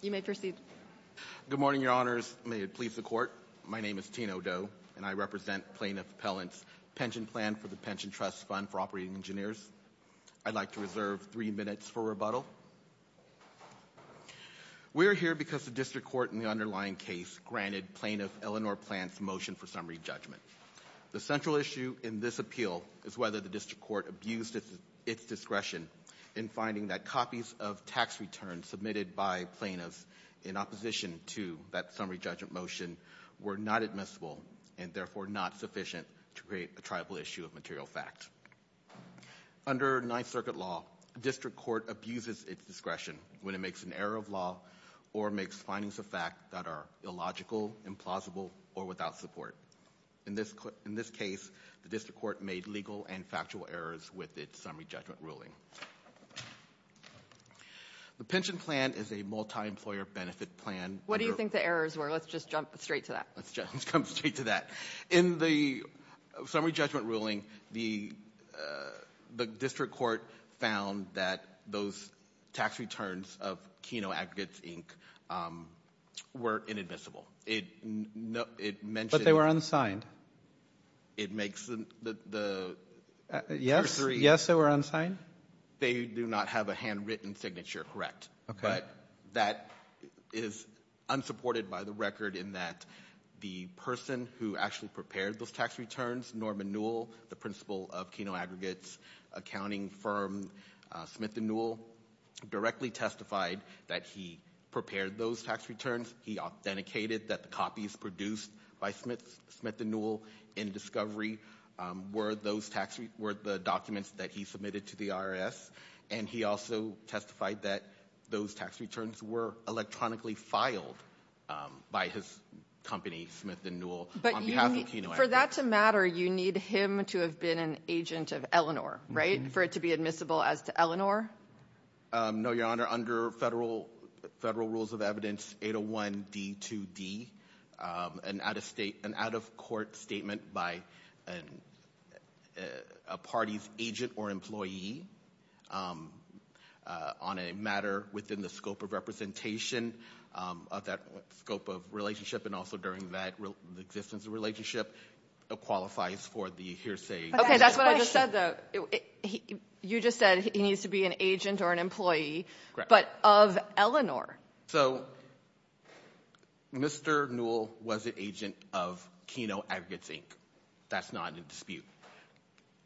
You may proceed. Good morning, Your Honors. May it please the Court. My name is Tino Do and I represent Plaintiff Pellant's Pension Plan for the Pension Trust Fund for Operating Engineers. I'd like to reserve three minutes for rebuttal. We're here because the District Court in the underlying case granted Plaintiff Eleanor Plant's motion for summary judgment. The central issue in this appeal is whether the District Court abused its discretion in finding that copies of tax returns submitted by plaintiffs in opposition to that summary judgment motion were not admissible and therefore not sufficient to create a tribal issue of material fact. Under Ninth Circuit law, the District Court abuses its discretion when it makes an error of law or makes findings of fact that are illogical, implausible, or without support. In this case, the District Court made legal and factual errors with its summary judgment ruling. The Pension Plan is a multi-employer benefit plan. What do you think the errors were? Let's just jump straight to that. Let's jump straight to that. In the summary judgment ruling, the District Court found that those tax returns of Kino Aggregates, Inc. were inadmissible. But they were unsigned. Yes, they were unsigned. They do not have a handwritten signature, correct. But that is unsupported by the record in that the person who actually prepared those tax returns, Norman Newell, the principal of Kino Aggregates accounting firm, Smith and Newell, directly testified that he prepared those tax returns. He authenticated that the copies produced by Smith and Newell in discovery were the documents that he submitted to the IRS. And he also testified that those tax returns were electronically filed by his company, Smith and Newell, on behalf of Kino Aggregates. But for that to matter, you need him to have been an agent of Eleanor, right? For it to be admissible as to Eleanor? No, Your Honor. Under federal rules of evidence 801D2D, an out-of-court statement by a party's agent or employee on a matter within the scope of representation of that scope of relationship and also during that existence of relationship qualifies for the hearsay. Okay, that's what I just said, though. You just said he needs to be an agent or an employee, but of Eleanor. So Mr. Newell was an agent of Kino Aggregates, Inc. That's not in dispute.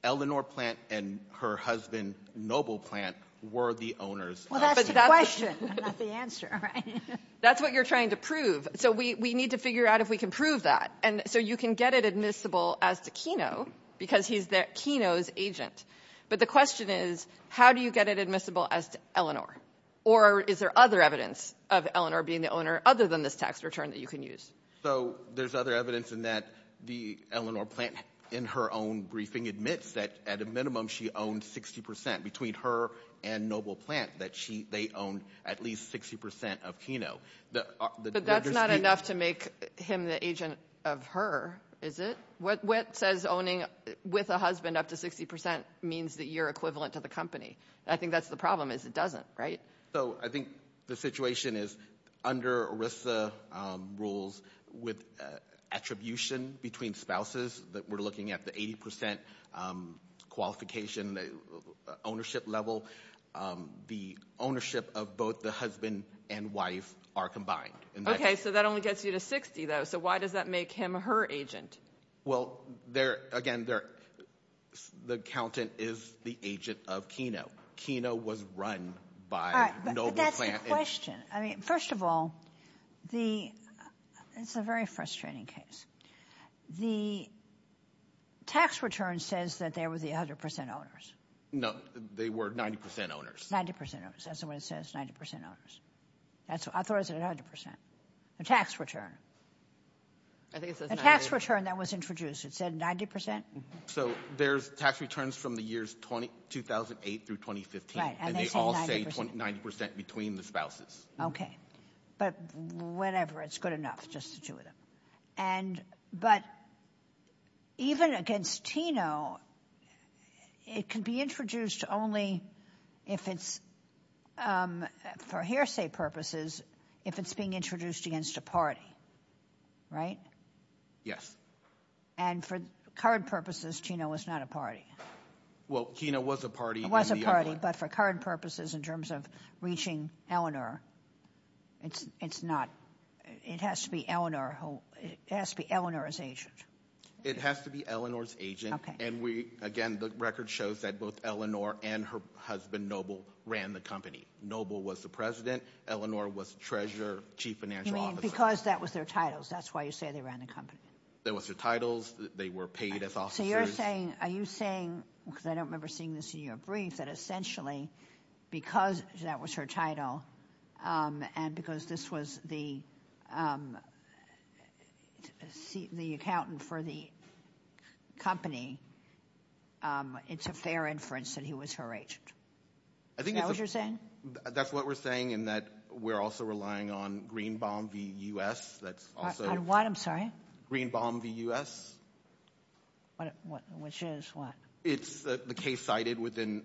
Eleanor Plant and her husband, Noble Plant, were the owners of the plant. Well, that's the question, not the answer, right? That's what you're trying to prove. So we need to figure out if we can prove that. And so you can get it admissible as to Kino because he's Kino's agent. But the question is, how do you get it admissible as to Eleanor? Or is there other evidence of Eleanor being the owner other than this tax return that you can use? So there's other evidence in that the Eleanor Plant in her own briefing admits that at a minimum she owned 60%, between her and Noble Plant, that they owned at least 60% of Kino. But that's not enough to make him the agent of her, is it? What says owning with a husband up to 60% means that you're equivalent to the company? I think that's the problem is it doesn't, right? So I think the situation is under ERISA rules with attribution between spouses, that we're looking at the 80% qualification, the ownership level, the ownership of both the husband and wife are combined. So that only gets you to 60, though. So why does that make him her agent? Well, again, the accountant is the agent of Kino. Kino was run by Noble Plant. But that's the question. First of all, it's a very frustrating case. The tax return says that they were the 100% owners. No, they were 90% owners. 90% owners. That's what it says, 90% owners. I thought it said 100%. The tax return. I think it says 90%. The tax return that was introduced, it said 90%? So there's tax returns from the years 2008 through 2015, and they all say 90% between the spouses. But whatever, it's good enough, just the two of them. But even against Kino, it can be introduced only if it's, for hearsay purposes, if it's being introduced against a party, right? Yes. And for current purposes, Kino was not a party. Well, Kino was a party. It was a party, but for current purposes, in terms of reaching Eleanor, it's not. It has to be Eleanor's agent. It has to be Eleanor's agent. And again, the record shows that both Eleanor and her husband, Noble, ran the company. Noble was the president. Eleanor was treasurer, chief financial officer. Because that was their titles. That's why you say they ran the company. That was their titles. They were paid as officers. So you're saying, are you saying, because I don't remember seeing this in your brief, that essentially because that was her title and because this was the accountant for the company, it's a fair inference that he was her agent? Is that what you're saying? That's what we're saying in that we're also relying on Greenbaum v. U.S. On what? I'm sorry? Greenbaum v. U.S. Which is what? It's the case cited within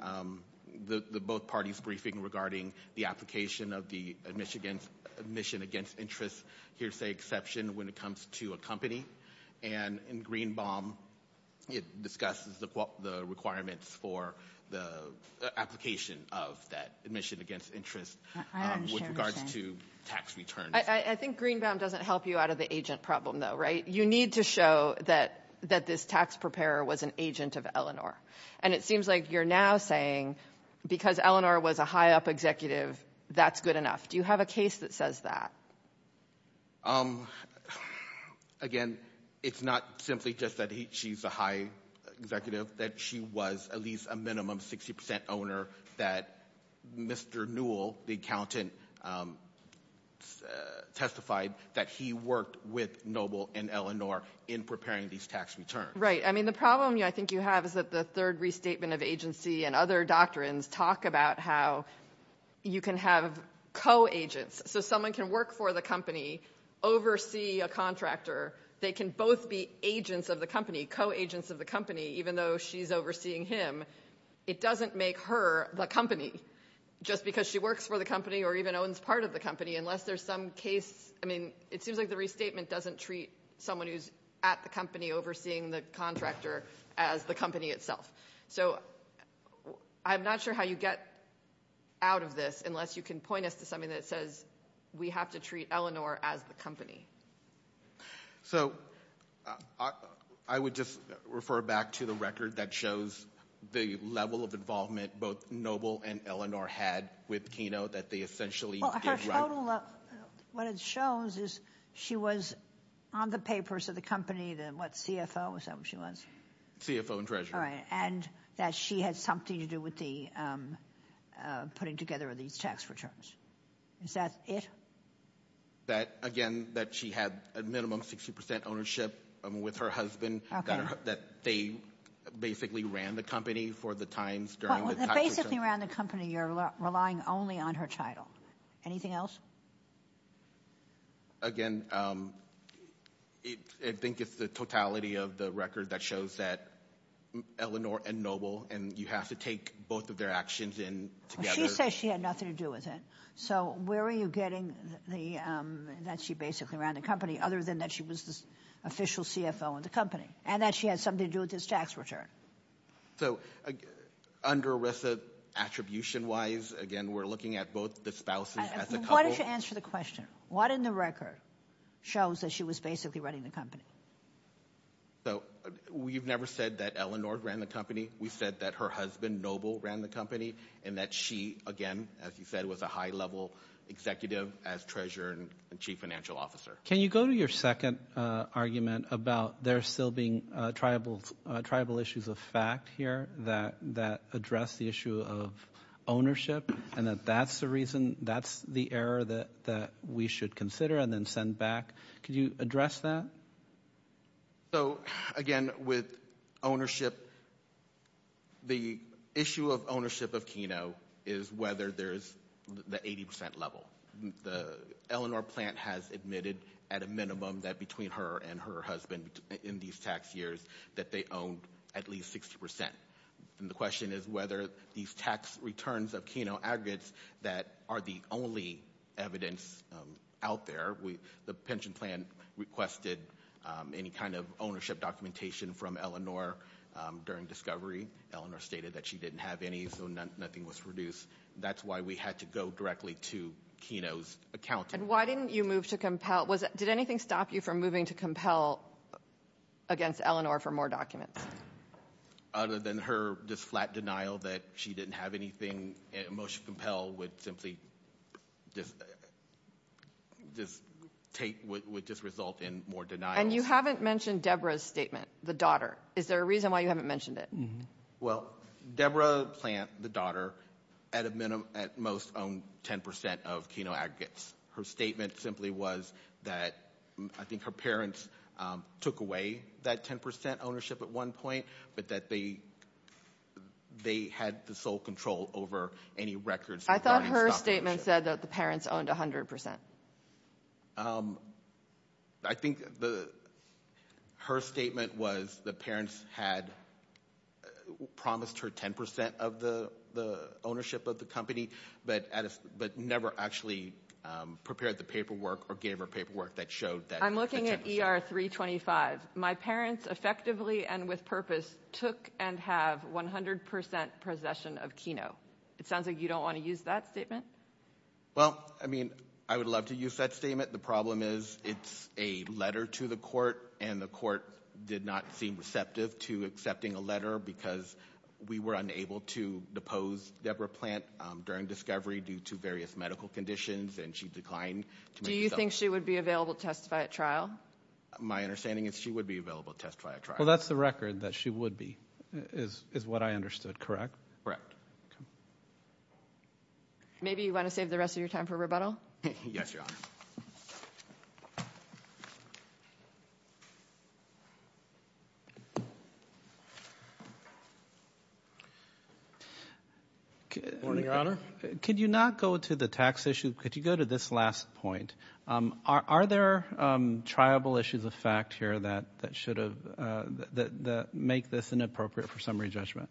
the both parties' briefing regarding the application of the admission against interest hearsay exception when it comes to a company. And in Greenbaum, it discusses the requirements for the application of that admission against interest with regards to tax returns. I think Greenbaum doesn't help you out of the agent problem, though, right? You need to show that this tax preparer was an agent of Eleanor. And it seems like you're now saying because Eleanor was a high-up executive, that's good enough. Do you have a case that says that? Again, it's not simply just that she's a high executive, that she was at least a minimum 60% owner that Mr. Newell, the accountant, testified that he worked with Noble and Eleanor in preparing these tax returns. Right. I mean, the problem I think you have is that the third restatement of agency and other doctrines talk about how you can have co-agents. So someone can work for the company, oversee a contractor. They can both be agents of the company, co-agents of the company, even though she's overseeing him. It doesn't make her the company just because she works for the company or even owns part of the company unless there's some case. I mean, it seems like the restatement doesn't treat someone who's at the company overseeing the contractor as the company itself. So I'm not sure how you get out of this unless you can point us to something that says we have to treat Eleanor as the company. So I would just refer back to the record that shows the level of involvement both Noble and Eleanor had with Kino that they essentially did right. Well, her total – what it shows is she was on the papers of the company, the – what, CFO or something she was? CFO and treasurer. All right, and that she had something to do with the putting together of these tax returns. Is that it? That, again, that she had a minimum 60 percent ownership with her husband. That they basically ran the company for the times during the – Well, they basically ran the company. You're relying only on her title. Anything else? Again, I think it's the totality of the record that shows that Eleanor and Noble – and you have to take both of their actions in together. She says she had nothing to do with it. So where are you getting the – that she basically ran the company other than that she was the official CFO of the company and that she had something to do with this tax return? So under ERISA attribution-wise, again, we're looking at both the spouses as a couple. Why don't you answer the question? What in the record shows that she was basically running the company? So we've never said that Eleanor ran the company. We said that her husband, Noble, ran the company and that she, again, as you said, was a high-level executive as treasurer and chief financial officer. Can you go to your second argument about there still being tribal issues of fact here that address the issue of ownership and that that's the reason – that's the error that we should consider and then send back? Could you address that? So, again, with ownership, the issue of ownership of Keno is whether there's the 80 percent level. The Eleanor plant has admitted at a minimum that between her and her husband in these tax years that they owned at least 60 percent. And the question is whether these tax returns of Keno aggregates that are the only evidence out there – the pension plan requested any kind of ownership documentation from Eleanor during discovery. Eleanor stated that she didn't have any, so nothing was produced. That's why we had to go directly to Keno's accountant. And why didn't you move to compel? Did anything stop you from moving to compel against Eleanor for more documents? Other than her just flat denial that she didn't have anything, a motion to compel would simply just take – would just result in more denials. And you haven't mentioned Deborah's statement, the daughter. Is there a reason why you haven't mentioned it? Well, Deborah Plant, the daughter, at a minimum, at most, owned 10 percent of Keno aggregates. Her statement simply was that I think her parents took away that 10 percent ownership at one point, but that they had the sole control over any records – I thought her statement said that the parents owned 100 percent. I think her statement was the parents had promised her 10 percent of the ownership of the company, but never actually prepared the paperwork or gave her paperwork that showed that – I'm looking at ER 325. My parents effectively and with purpose took and have 100 percent possession of Keno. It sounds like you don't want to use that statement. Well, I mean, I would love to use that statement. The problem is it's a letter to the court, and the court did not seem receptive to accepting a letter because we were unable to depose Deborah Plant during discovery due to various medical conditions, and she declined to make herself – Do you think she would be available to testify at trial? My understanding is she would be available to testify at trial. Well, that's the record, that she would be, is what I understood, correct? Correct. Okay. Maybe you want to save the rest of your time for rebuttal? Yes, Your Honor. Good morning, Your Honor. Could you not go to the tax issue? Could you go to this last point? Are there triable issues of fact here that should have – that make this inappropriate for summary judgment?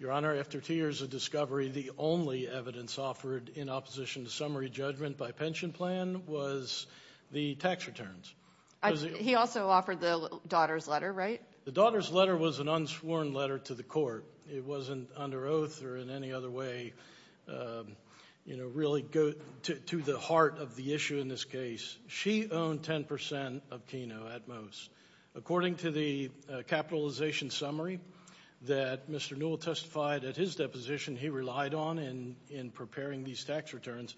Your Honor, after two years of discovery, the only evidence offered in opposition to summary judgment by pension plan was the tax returns. He also offered the daughter's letter, right? The daughter's letter was an unsworn letter to the court. It wasn't under oath or in any other way really to the heart of the issue in this case. She owned 10 percent of Keno at most. According to the capitalization summary that Mr. Newell testified at his deposition, he relied on in preparing these tax returns.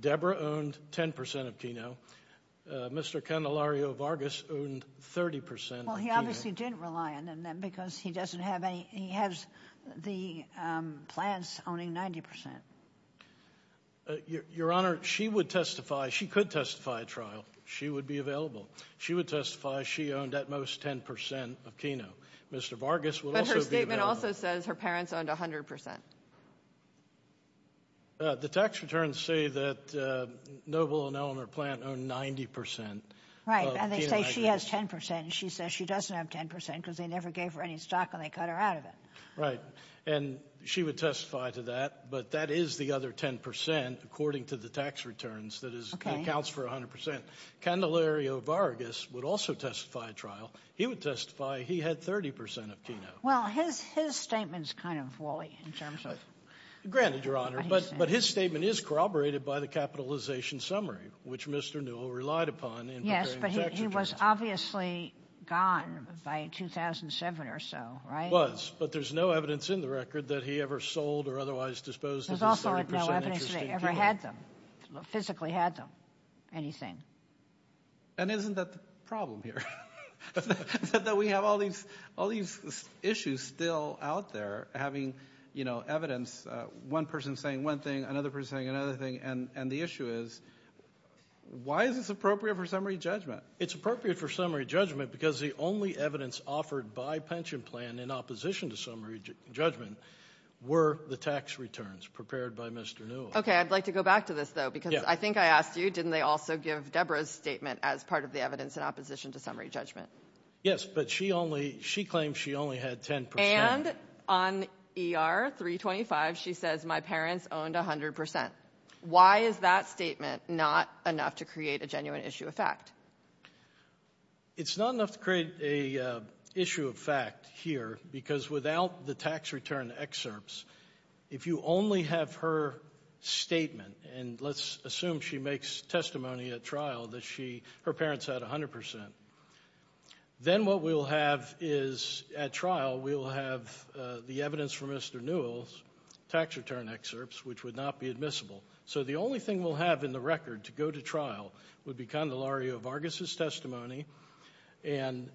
Deborah owned 10 percent of Keno. Mr. Candelario Vargas owned 30 percent of Keno. Well, he obviously didn't rely on them because he doesn't have any – he has the plans owning 90 percent. Your Honor, she would testify – she could testify at trial. She would be available. She would testify she owned at most 10 percent of Keno. Mr. Vargas would also be available. But her statement also says her parents owned 100 percent. The tax returns say that Noble and Eleanor Plant owned 90 percent of Keno. Right, and they say she has 10 percent, and she says she doesn't have 10 percent because they never gave her any stock and they cut her out of it. Right, and she would testify to that, but that is the other 10 percent according to the tax returns that is – that counts for 100 percent. Candelario Vargas would also testify at trial. He would testify he had 30 percent of Keno. Well, his statement is kind of woolly in terms of what he said. Granted, Your Honor, but his statement is corroborated by the capitalization summary, which Mr. Newell relied upon in preparing the tax returns. Yes, but he was obviously gone by 2007 or so, right? Was, but there's no evidence in the record that he ever sold or otherwise disposed of his 30 percent interest in Keno. He never had them, physically had them, anything. And isn't that the problem here? That we have all these issues still out there having, you know, evidence, one person saying one thing, another person saying another thing, and the issue is why is this appropriate for summary judgment? It's appropriate for summary judgment because the only evidence offered by pension plan in opposition to summary judgment were the tax returns prepared by Mr. Newell. Okay. I'd like to go back to this, though, because I think I asked you, didn't they also give Deborah's statement as part of the evidence in opposition to summary judgment? Yes, but she only, she claimed she only had 10 percent. And on ER-325, she says my parents owned 100 percent. Why is that statement not enough to create a genuine issue of fact? It's not enough to create an issue of fact here because without the tax return excerpts, if you only have her statement, and let's assume she makes testimony at trial that her parents had 100 percent, then what we'll have is, at trial, we'll have the evidence from Mr. Newell's tax return excerpts, which would not be admissible. So the only thing we'll have in the record to go to trial would be Condelario Vargas' testimony and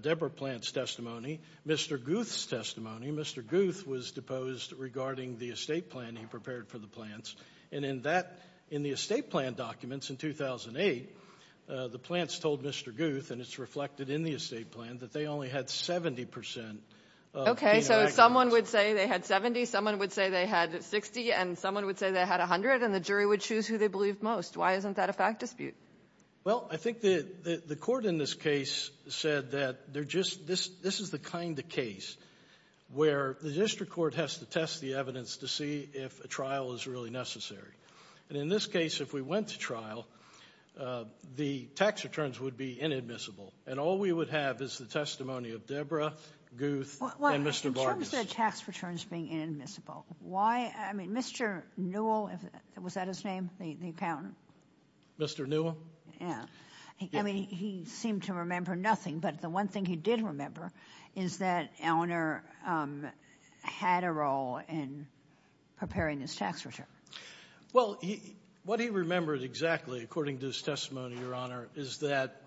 Deborah Plant's testimony, Mr. Guth's testimony. Mr. Guth was deposed regarding the estate plan he prepared for the Plants. And in that, in the estate plan documents in 2008, the Plants told Mr. Guth, and it's reflected in the estate plan, that they only had 70 percent. Okay, so someone would say they had 70, someone would say they had 60, and someone would say they had 100, and the jury would choose who they believed most. Why isn't that a fact dispute? Well, I think the court in this case said that they're just, this is the kind of case where the district court has to test the evidence to see if a trial is really necessary. And in this case, if we went to trial, the tax returns would be inadmissible, and all we would have is the testimony of Deborah, Guth, and Mr. Vargas. In terms of tax returns being inadmissible, why, I mean, Mr. Newell, was that his name, the accountant? Mr. Newell? Yeah. I mean, he seemed to remember nothing. But the one thing he did remember is that Eleanor had a role in preparing this tax return. Well, what he remembered exactly, according to his testimony, Your Honor, is that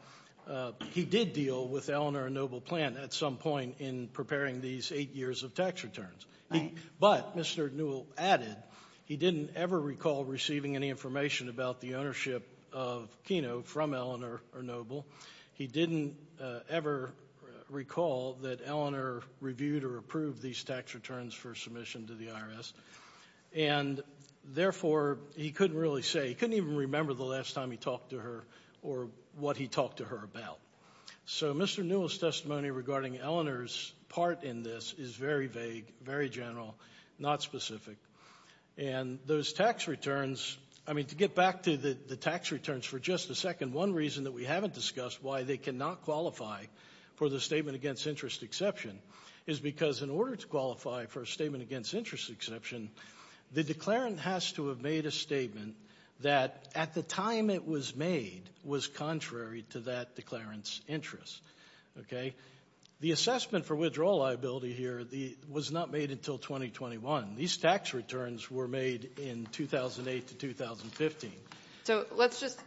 he did deal with Eleanor and Noble Plant at some point in preparing these eight years of tax returns. Right. But Mr. Newell added he didn't ever recall receiving any information about the ownership of Keno from Eleanor or Noble. He didn't ever recall that Eleanor reviewed or approved these tax returns for submission to the IRS. And therefore, he couldn't really say, he couldn't even remember the last time he talked to her or what he talked to her about. So Mr. Newell's testimony regarding Eleanor's part in this is very vague, very general, not specific. And those tax returns, I mean, to get back to the tax returns for just a second, one reason that we haven't discussed why they cannot qualify for the Statement Against Interest Exception is because in order to qualify for a Statement Against Interest Exception, the declarant has to have made a statement that, at the time it was made, was contrary to that declarant's interests. The assessment for withdrawal liability here was not made until 2021. These tax returns were made in 2008 to 2015. So let's just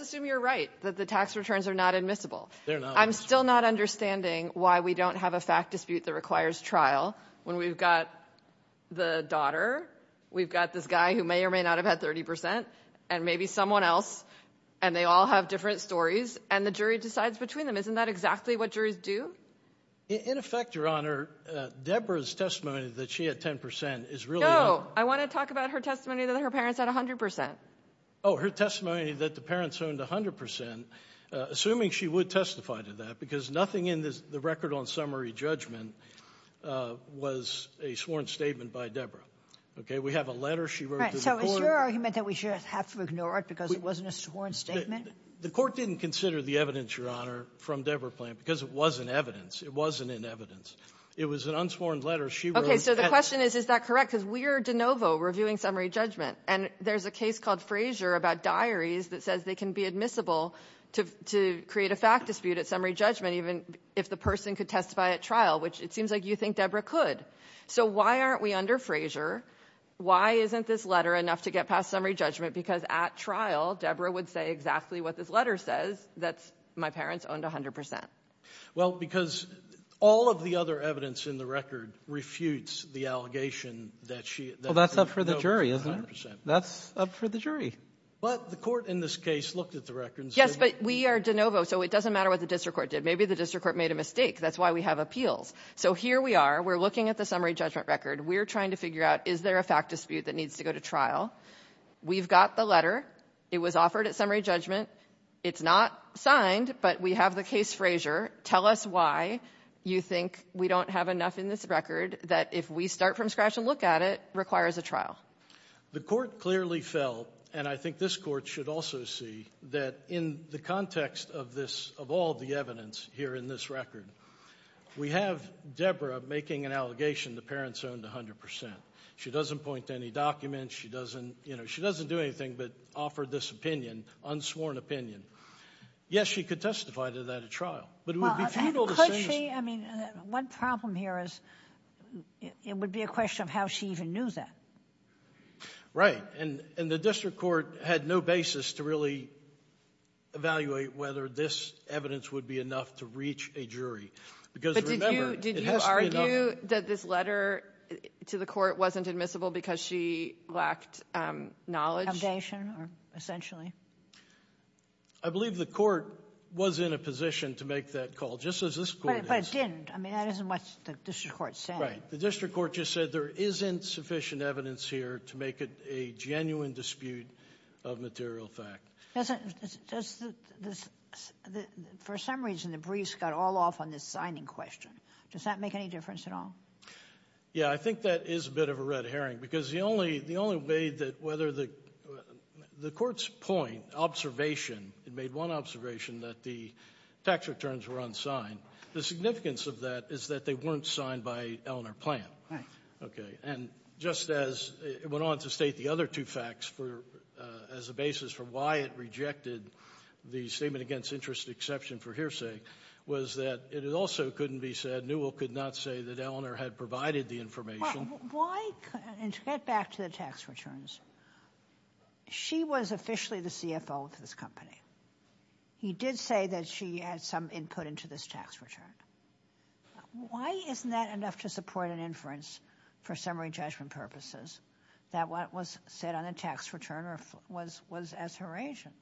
assume you're right, that the tax returns are not admissible. They're not. I'm still not understanding why we don't have a fact dispute that requires trial when we've got the daughter, we've got this guy who may or may not have had 30 percent, and maybe someone else, and they all have different stories, and the jury decides between them. Isn't that exactly what juries do? In effect, Your Honor, Deborah's testimony that she had 10 percent is really wrong. No, I want to talk about her testimony that her parents had 100 percent. Oh, her testimony that the parents owned 100 percent, assuming she would testify to that, because nothing in the record on summary judgment was a sworn statement by Deborah. Okay, we have a letter she wrote to the court. So is your argument that we should have to ignore it because it wasn't a sworn statement? The court didn't consider the evidence, Your Honor, from Deborah Plante, because it wasn't evidence. It wasn't in evidence. It was an unsworn letter she wrote. Okay, so the question is, is that correct? Because we are de novo reviewing summary judgment, and there's a case called Frazier about diaries that says they can be admissible to create a fact dispute at summary judgment even if the person could testify at trial, which it seems like you think Deborah could. So why aren't we under Frazier? Why isn't this letter enough to get past summary judgment? Because at trial, Deborah would say exactly what this letter says, that my parents owned 100 percent. Well, because all of the other evidence in the record refutes the allegation that she — Well, that's up for the jury, isn't it? That's up for the jury. But the court in this case looked at the records. Yes, but we are de novo, so it doesn't matter what the district court did. Maybe the district court made a mistake. That's why we have appeals. So here we are. We're looking at the summary judgment record. We're trying to figure out, is there a fact dispute that needs to go to trial? We've got the letter. It was offered at summary judgment. It's not signed, but we have the case Frazier. Tell us why you think we don't have enough in this record that if we start from scratch and look at it requires a trial. The court clearly felt, and I think this Court should also see, that in the context of this — of all the evidence here in this record, we have Deborah making an allegation the parents owned 100 percent. She doesn't point to any documents. She doesn't — you know, she doesn't do anything but offer this opinion, unsworn opinion. Yes, she could testify to that at trial. But it would be futile to say — Well, and could she? I mean, one problem here is it would be a question of how she even knew that. Right. And the district court had no basis to really evaluate whether this evidence would be enough to reach a jury. Because remember, it has to be enough —— foundation or essentially. I believe the court was in a position to make that call, just as this Court is. But it didn't. I mean, that isn't what the district court said. Right. The district court just said there isn't sufficient evidence here to make it a genuine dispute of material fact. Does the — for some reason, the briefs got all off on this signing question. Does that make any difference at all? Yeah, I think that is a bit of a red herring. Because the only — the only way that whether the — the court's point, observation — it made one observation that the tax returns were unsigned. The significance of that is that they weren't signed by Eleanor Plante. Right. Okay. And just as it went on to state the other two facts for — as a basis for why it rejected the statement against interest exception for hearsay was that it also couldn't be said that Newell could not say that Eleanor had provided the information. Why — and to get back to the tax returns, she was officially the CFO of this company. He did say that she had some input into this tax return. Why isn't that enough to support an inference for summary judgment purposes that what was said on the tax return was as her agent?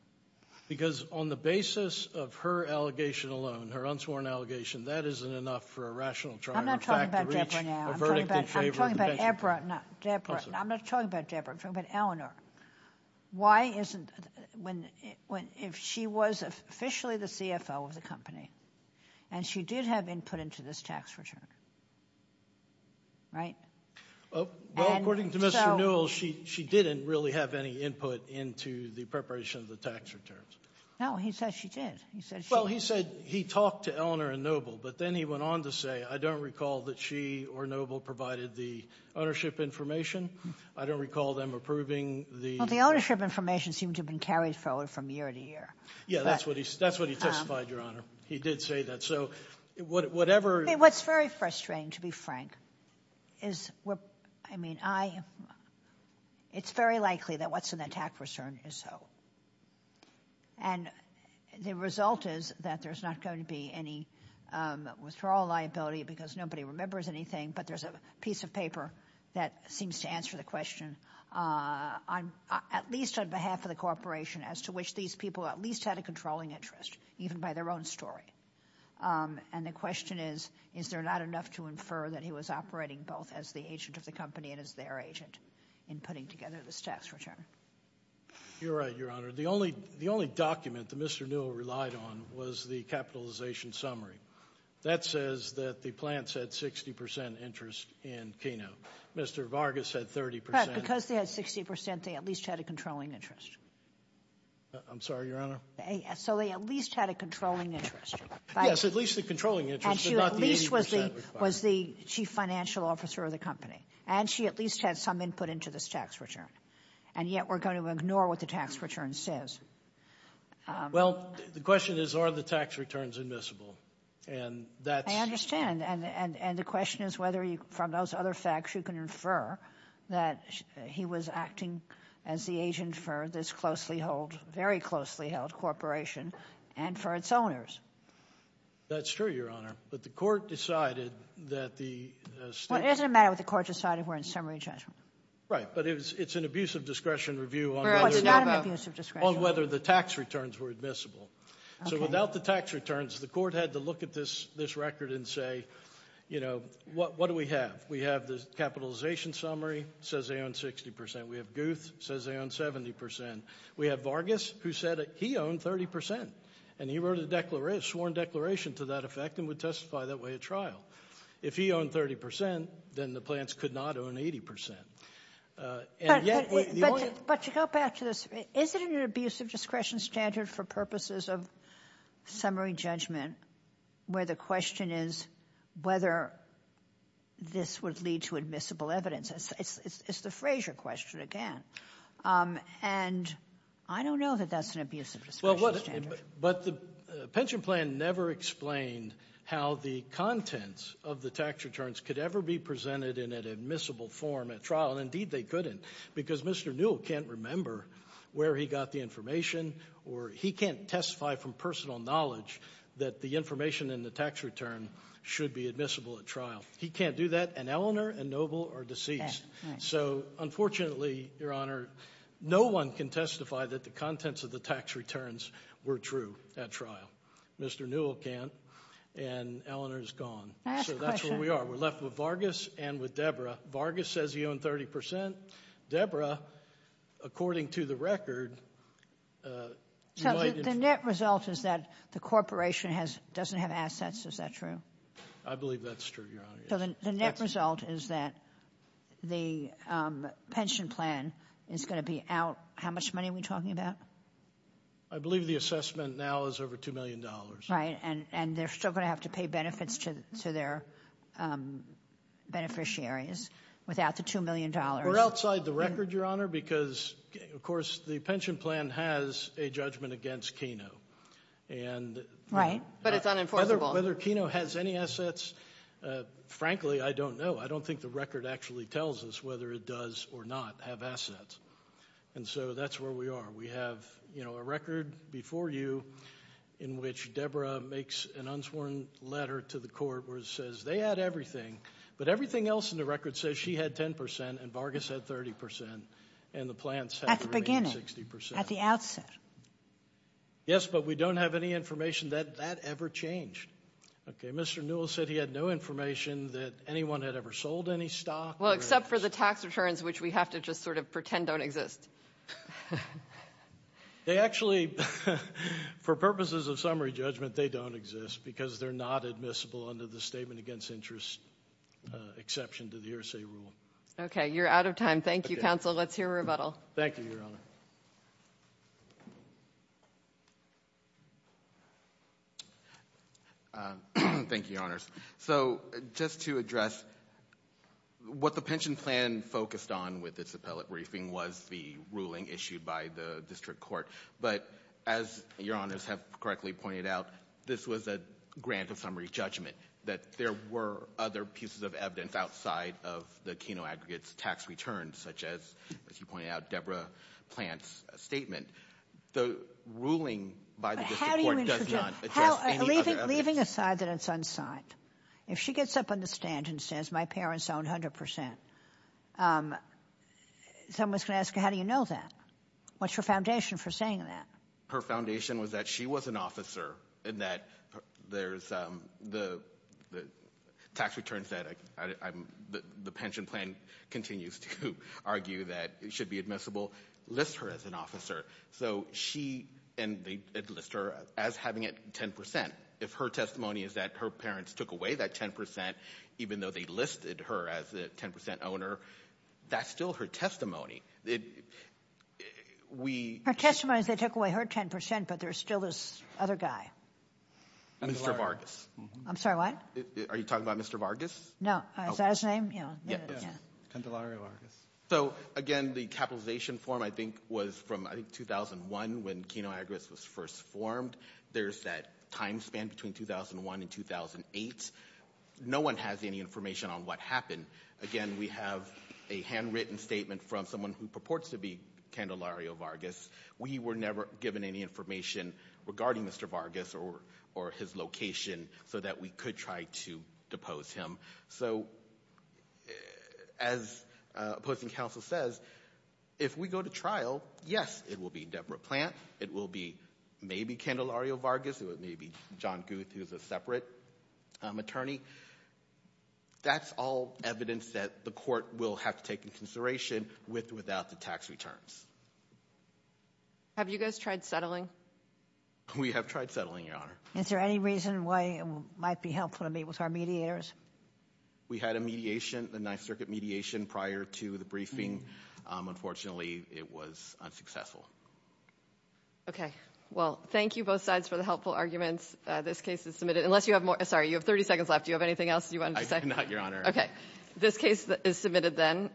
Because on the basis of her allegation alone, her unsworn allegation, that isn't enough for a rational trial — I'm not talking about Deborah now. I'm talking about — I'm talking about Deborah, not Deborah. I'm not talking about Deborah. I'm talking about Eleanor. Why isn't — when — if she was officially the CFO of the company, and she did have input into this tax return, right? Well, according to Mr. Newell, she didn't really have any input into the preparation of the tax returns. No, he said she did. He said she — It's hard to say. I don't recall that she or Newell provided the ownership information. I don't recall them approving the — Well, the ownership information seemed to have been carried forward from year to year. Yeah, that's what he testified, Your Honor. He did say that. So whatever — I mean, what's very frustrating, to be frank, is — I mean, I — it's very likely that what's in the tax return is so. And the result is that there's not going to be any withdrawal liability because nobody remembers anything, but there's a piece of paper that seems to answer the question on — at least on behalf of the corporation, as to which these people at least had a controlling interest, even by their own story. And the question is, is there not enough to infer that he was operating both as the agent of the company and as their agent in putting together this tax return? You're right, Your Honor. The only document that Mr. Newell relied on was the capitalization summary. That says that the plants had 60 percent interest in Keno. Mr. Vargas had 30 percent. Because they had 60 percent, they at least had a controlling interest. I'm sorry, Your Honor? So they at least had a controlling interest. Yes, at least a controlling interest, but not the 80 percent requirement. And she at least was the chief financial officer of the company. And she at least had some input into this tax return. And yet we're going to ignore what the tax return says. Well, the question is, are the tax returns admissible? And that's — And the question is whether, from those other facts, you can infer that he was acting as the agent for this closely held — very closely held corporation and for its owners. That's true, Your Honor. But the court decided that the — Well, it doesn't matter what the court decided. We're in summary judgment. Right. But it's an abuse of discretion review on whether — No, it's not an abuse of discretion. — on whether the tax returns were admissible. So without the tax returns, the court had to look at this record and say, you know, what do we have? We have the capitalization summary. It says they own 60 percent. We have Guth. It says they own 70 percent. We have Vargas, who said he owned 30 percent. And he wrote a sworn declaration to that effect and would testify that way at trial. If he owned 30 percent, then the plants could not own 80 percent. And yet — But to go back to this, is it an abuse of discretion standard for purposes of summary judgment where the question is whether this would lead to admissible evidence? It's the Frazier question again. And I don't know that that's an abuse of discretion standard. Well, but the pension plan never explained how the contents of the tax returns could ever be presented in an admissible form at trial. And indeed they couldn't, because Mr. Newell can't remember where he got the information or he can't testify from personal knowledge that the information in the tax return should be admissible at trial. He can't do that. And Eleanor and Noble are deceased. So unfortunately, Your Honor, no one can testify that the contents of the tax returns were true at trial. Mr. Newell can't, and Eleanor is gone. So that's where we are. We're left with Vargas and with Debra. Vargas says he owned 30 percent. Debra, according to the record — So the net result is that the corporation doesn't have assets. Is that true? I believe that's true, Your Honor. So the net result is that the pension plan is going to be out. How much money are we talking about? I believe the assessment now is over $2 million. Right, and they're still going to have to pay benefits to their beneficiaries without the $2 million. We're outside the record, Your Honor, because, of course, the pension plan has a judgment against Keno. Right, but it's unenforceable. Whether Keno has any assets, frankly, I don't know. I don't think the record actually tells us whether it does or not have assets. And so that's where we are. We have, you know, a record before you in which Debra makes an unsworn letter to the court where it says they had everything, but everything else in the record says she had 10 percent and Vargas had 30 percent and the plans had 60 percent. At the beginning, at the outset. Yes, but we don't have any information that that ever changed. Okay, Mr. Newell said he had no information that anyone had ever sold any stock. Well, except for the tax returns, which we have to just sort of pretend don't exist. They actually, for purposes of summary judgment, they don't exist because they're not admissible under the statement against interest exception to the RSA rule. Okay, you're out of time. Thank you, counsel. Let's hear a rebuttal. Thank you, Your Honor. Thank you, Your Honors. So just to address what the pension plan focused on with this appellate briefing was the ruling issued by the district court. But as Your Honors have correctly pointed out, this was a grant of summary judgment, that there were other pieces of evidence outside of the Keno aggregates tax returns, such as, as you pointed out, Debra Plante's statement. The ruling by the district court does not address any other evidence. Well, leaving aside that it's unsigned, if she gets up on the stand and says my parents own 100 percent, someone's going to ask, how do you know that? What's your foundation for saying that? Her foundation was that she was an officer and that there's the tax returns that the pension plan continues to argue that should be admissible, list her as an officer. So she, and they list her as having 10 percent. If her testimony is that her parents took away that 10 percent, even though they listed her as a 10 percent owner, that's still her testimony. Her testimony is they took away her 10 percent, but there's still this other guy. Mr. Vargas. I'm sorry, what? Are you talking about Mr. Vargas? No. Is that his name? Yeah. Candelario Vargas. So, again, the capitalization form, I think, was from, I think, 2001, when Kino Agribus was first formed. There's that time span between 2001 and 2008. No one has any information on what happened. Again, we have a handwritten statement from someone who purports to be Candelario Vargas. We were never given any information regarding Mr. Vargas or his location so that we could try to depose him. So, as opposing counsel says, if we go to trial, yes, it will be Deborah Plant. It will be maybe Candelario Vargas. It may be John Guth, who's a separate attorney. That's all evidence that the court will have to take into consideration with or without the tax returns. Have you guys tried settling? We have tried settling, Your Honor. Is there any reason why it might be helpful to meet with our mediators? We had a mediation, a Ninth Circuit mediation, prior to the briefing. Unfortunately, it was unsuccessful. Okay. Well, thank you both sides for the helpful arguments. This case is submitted. Unless you have more. Sorry, you have 30 seconds left. Do you have anything else you wanted to say? I do not, Your Honor. Okay. This case is submitted then.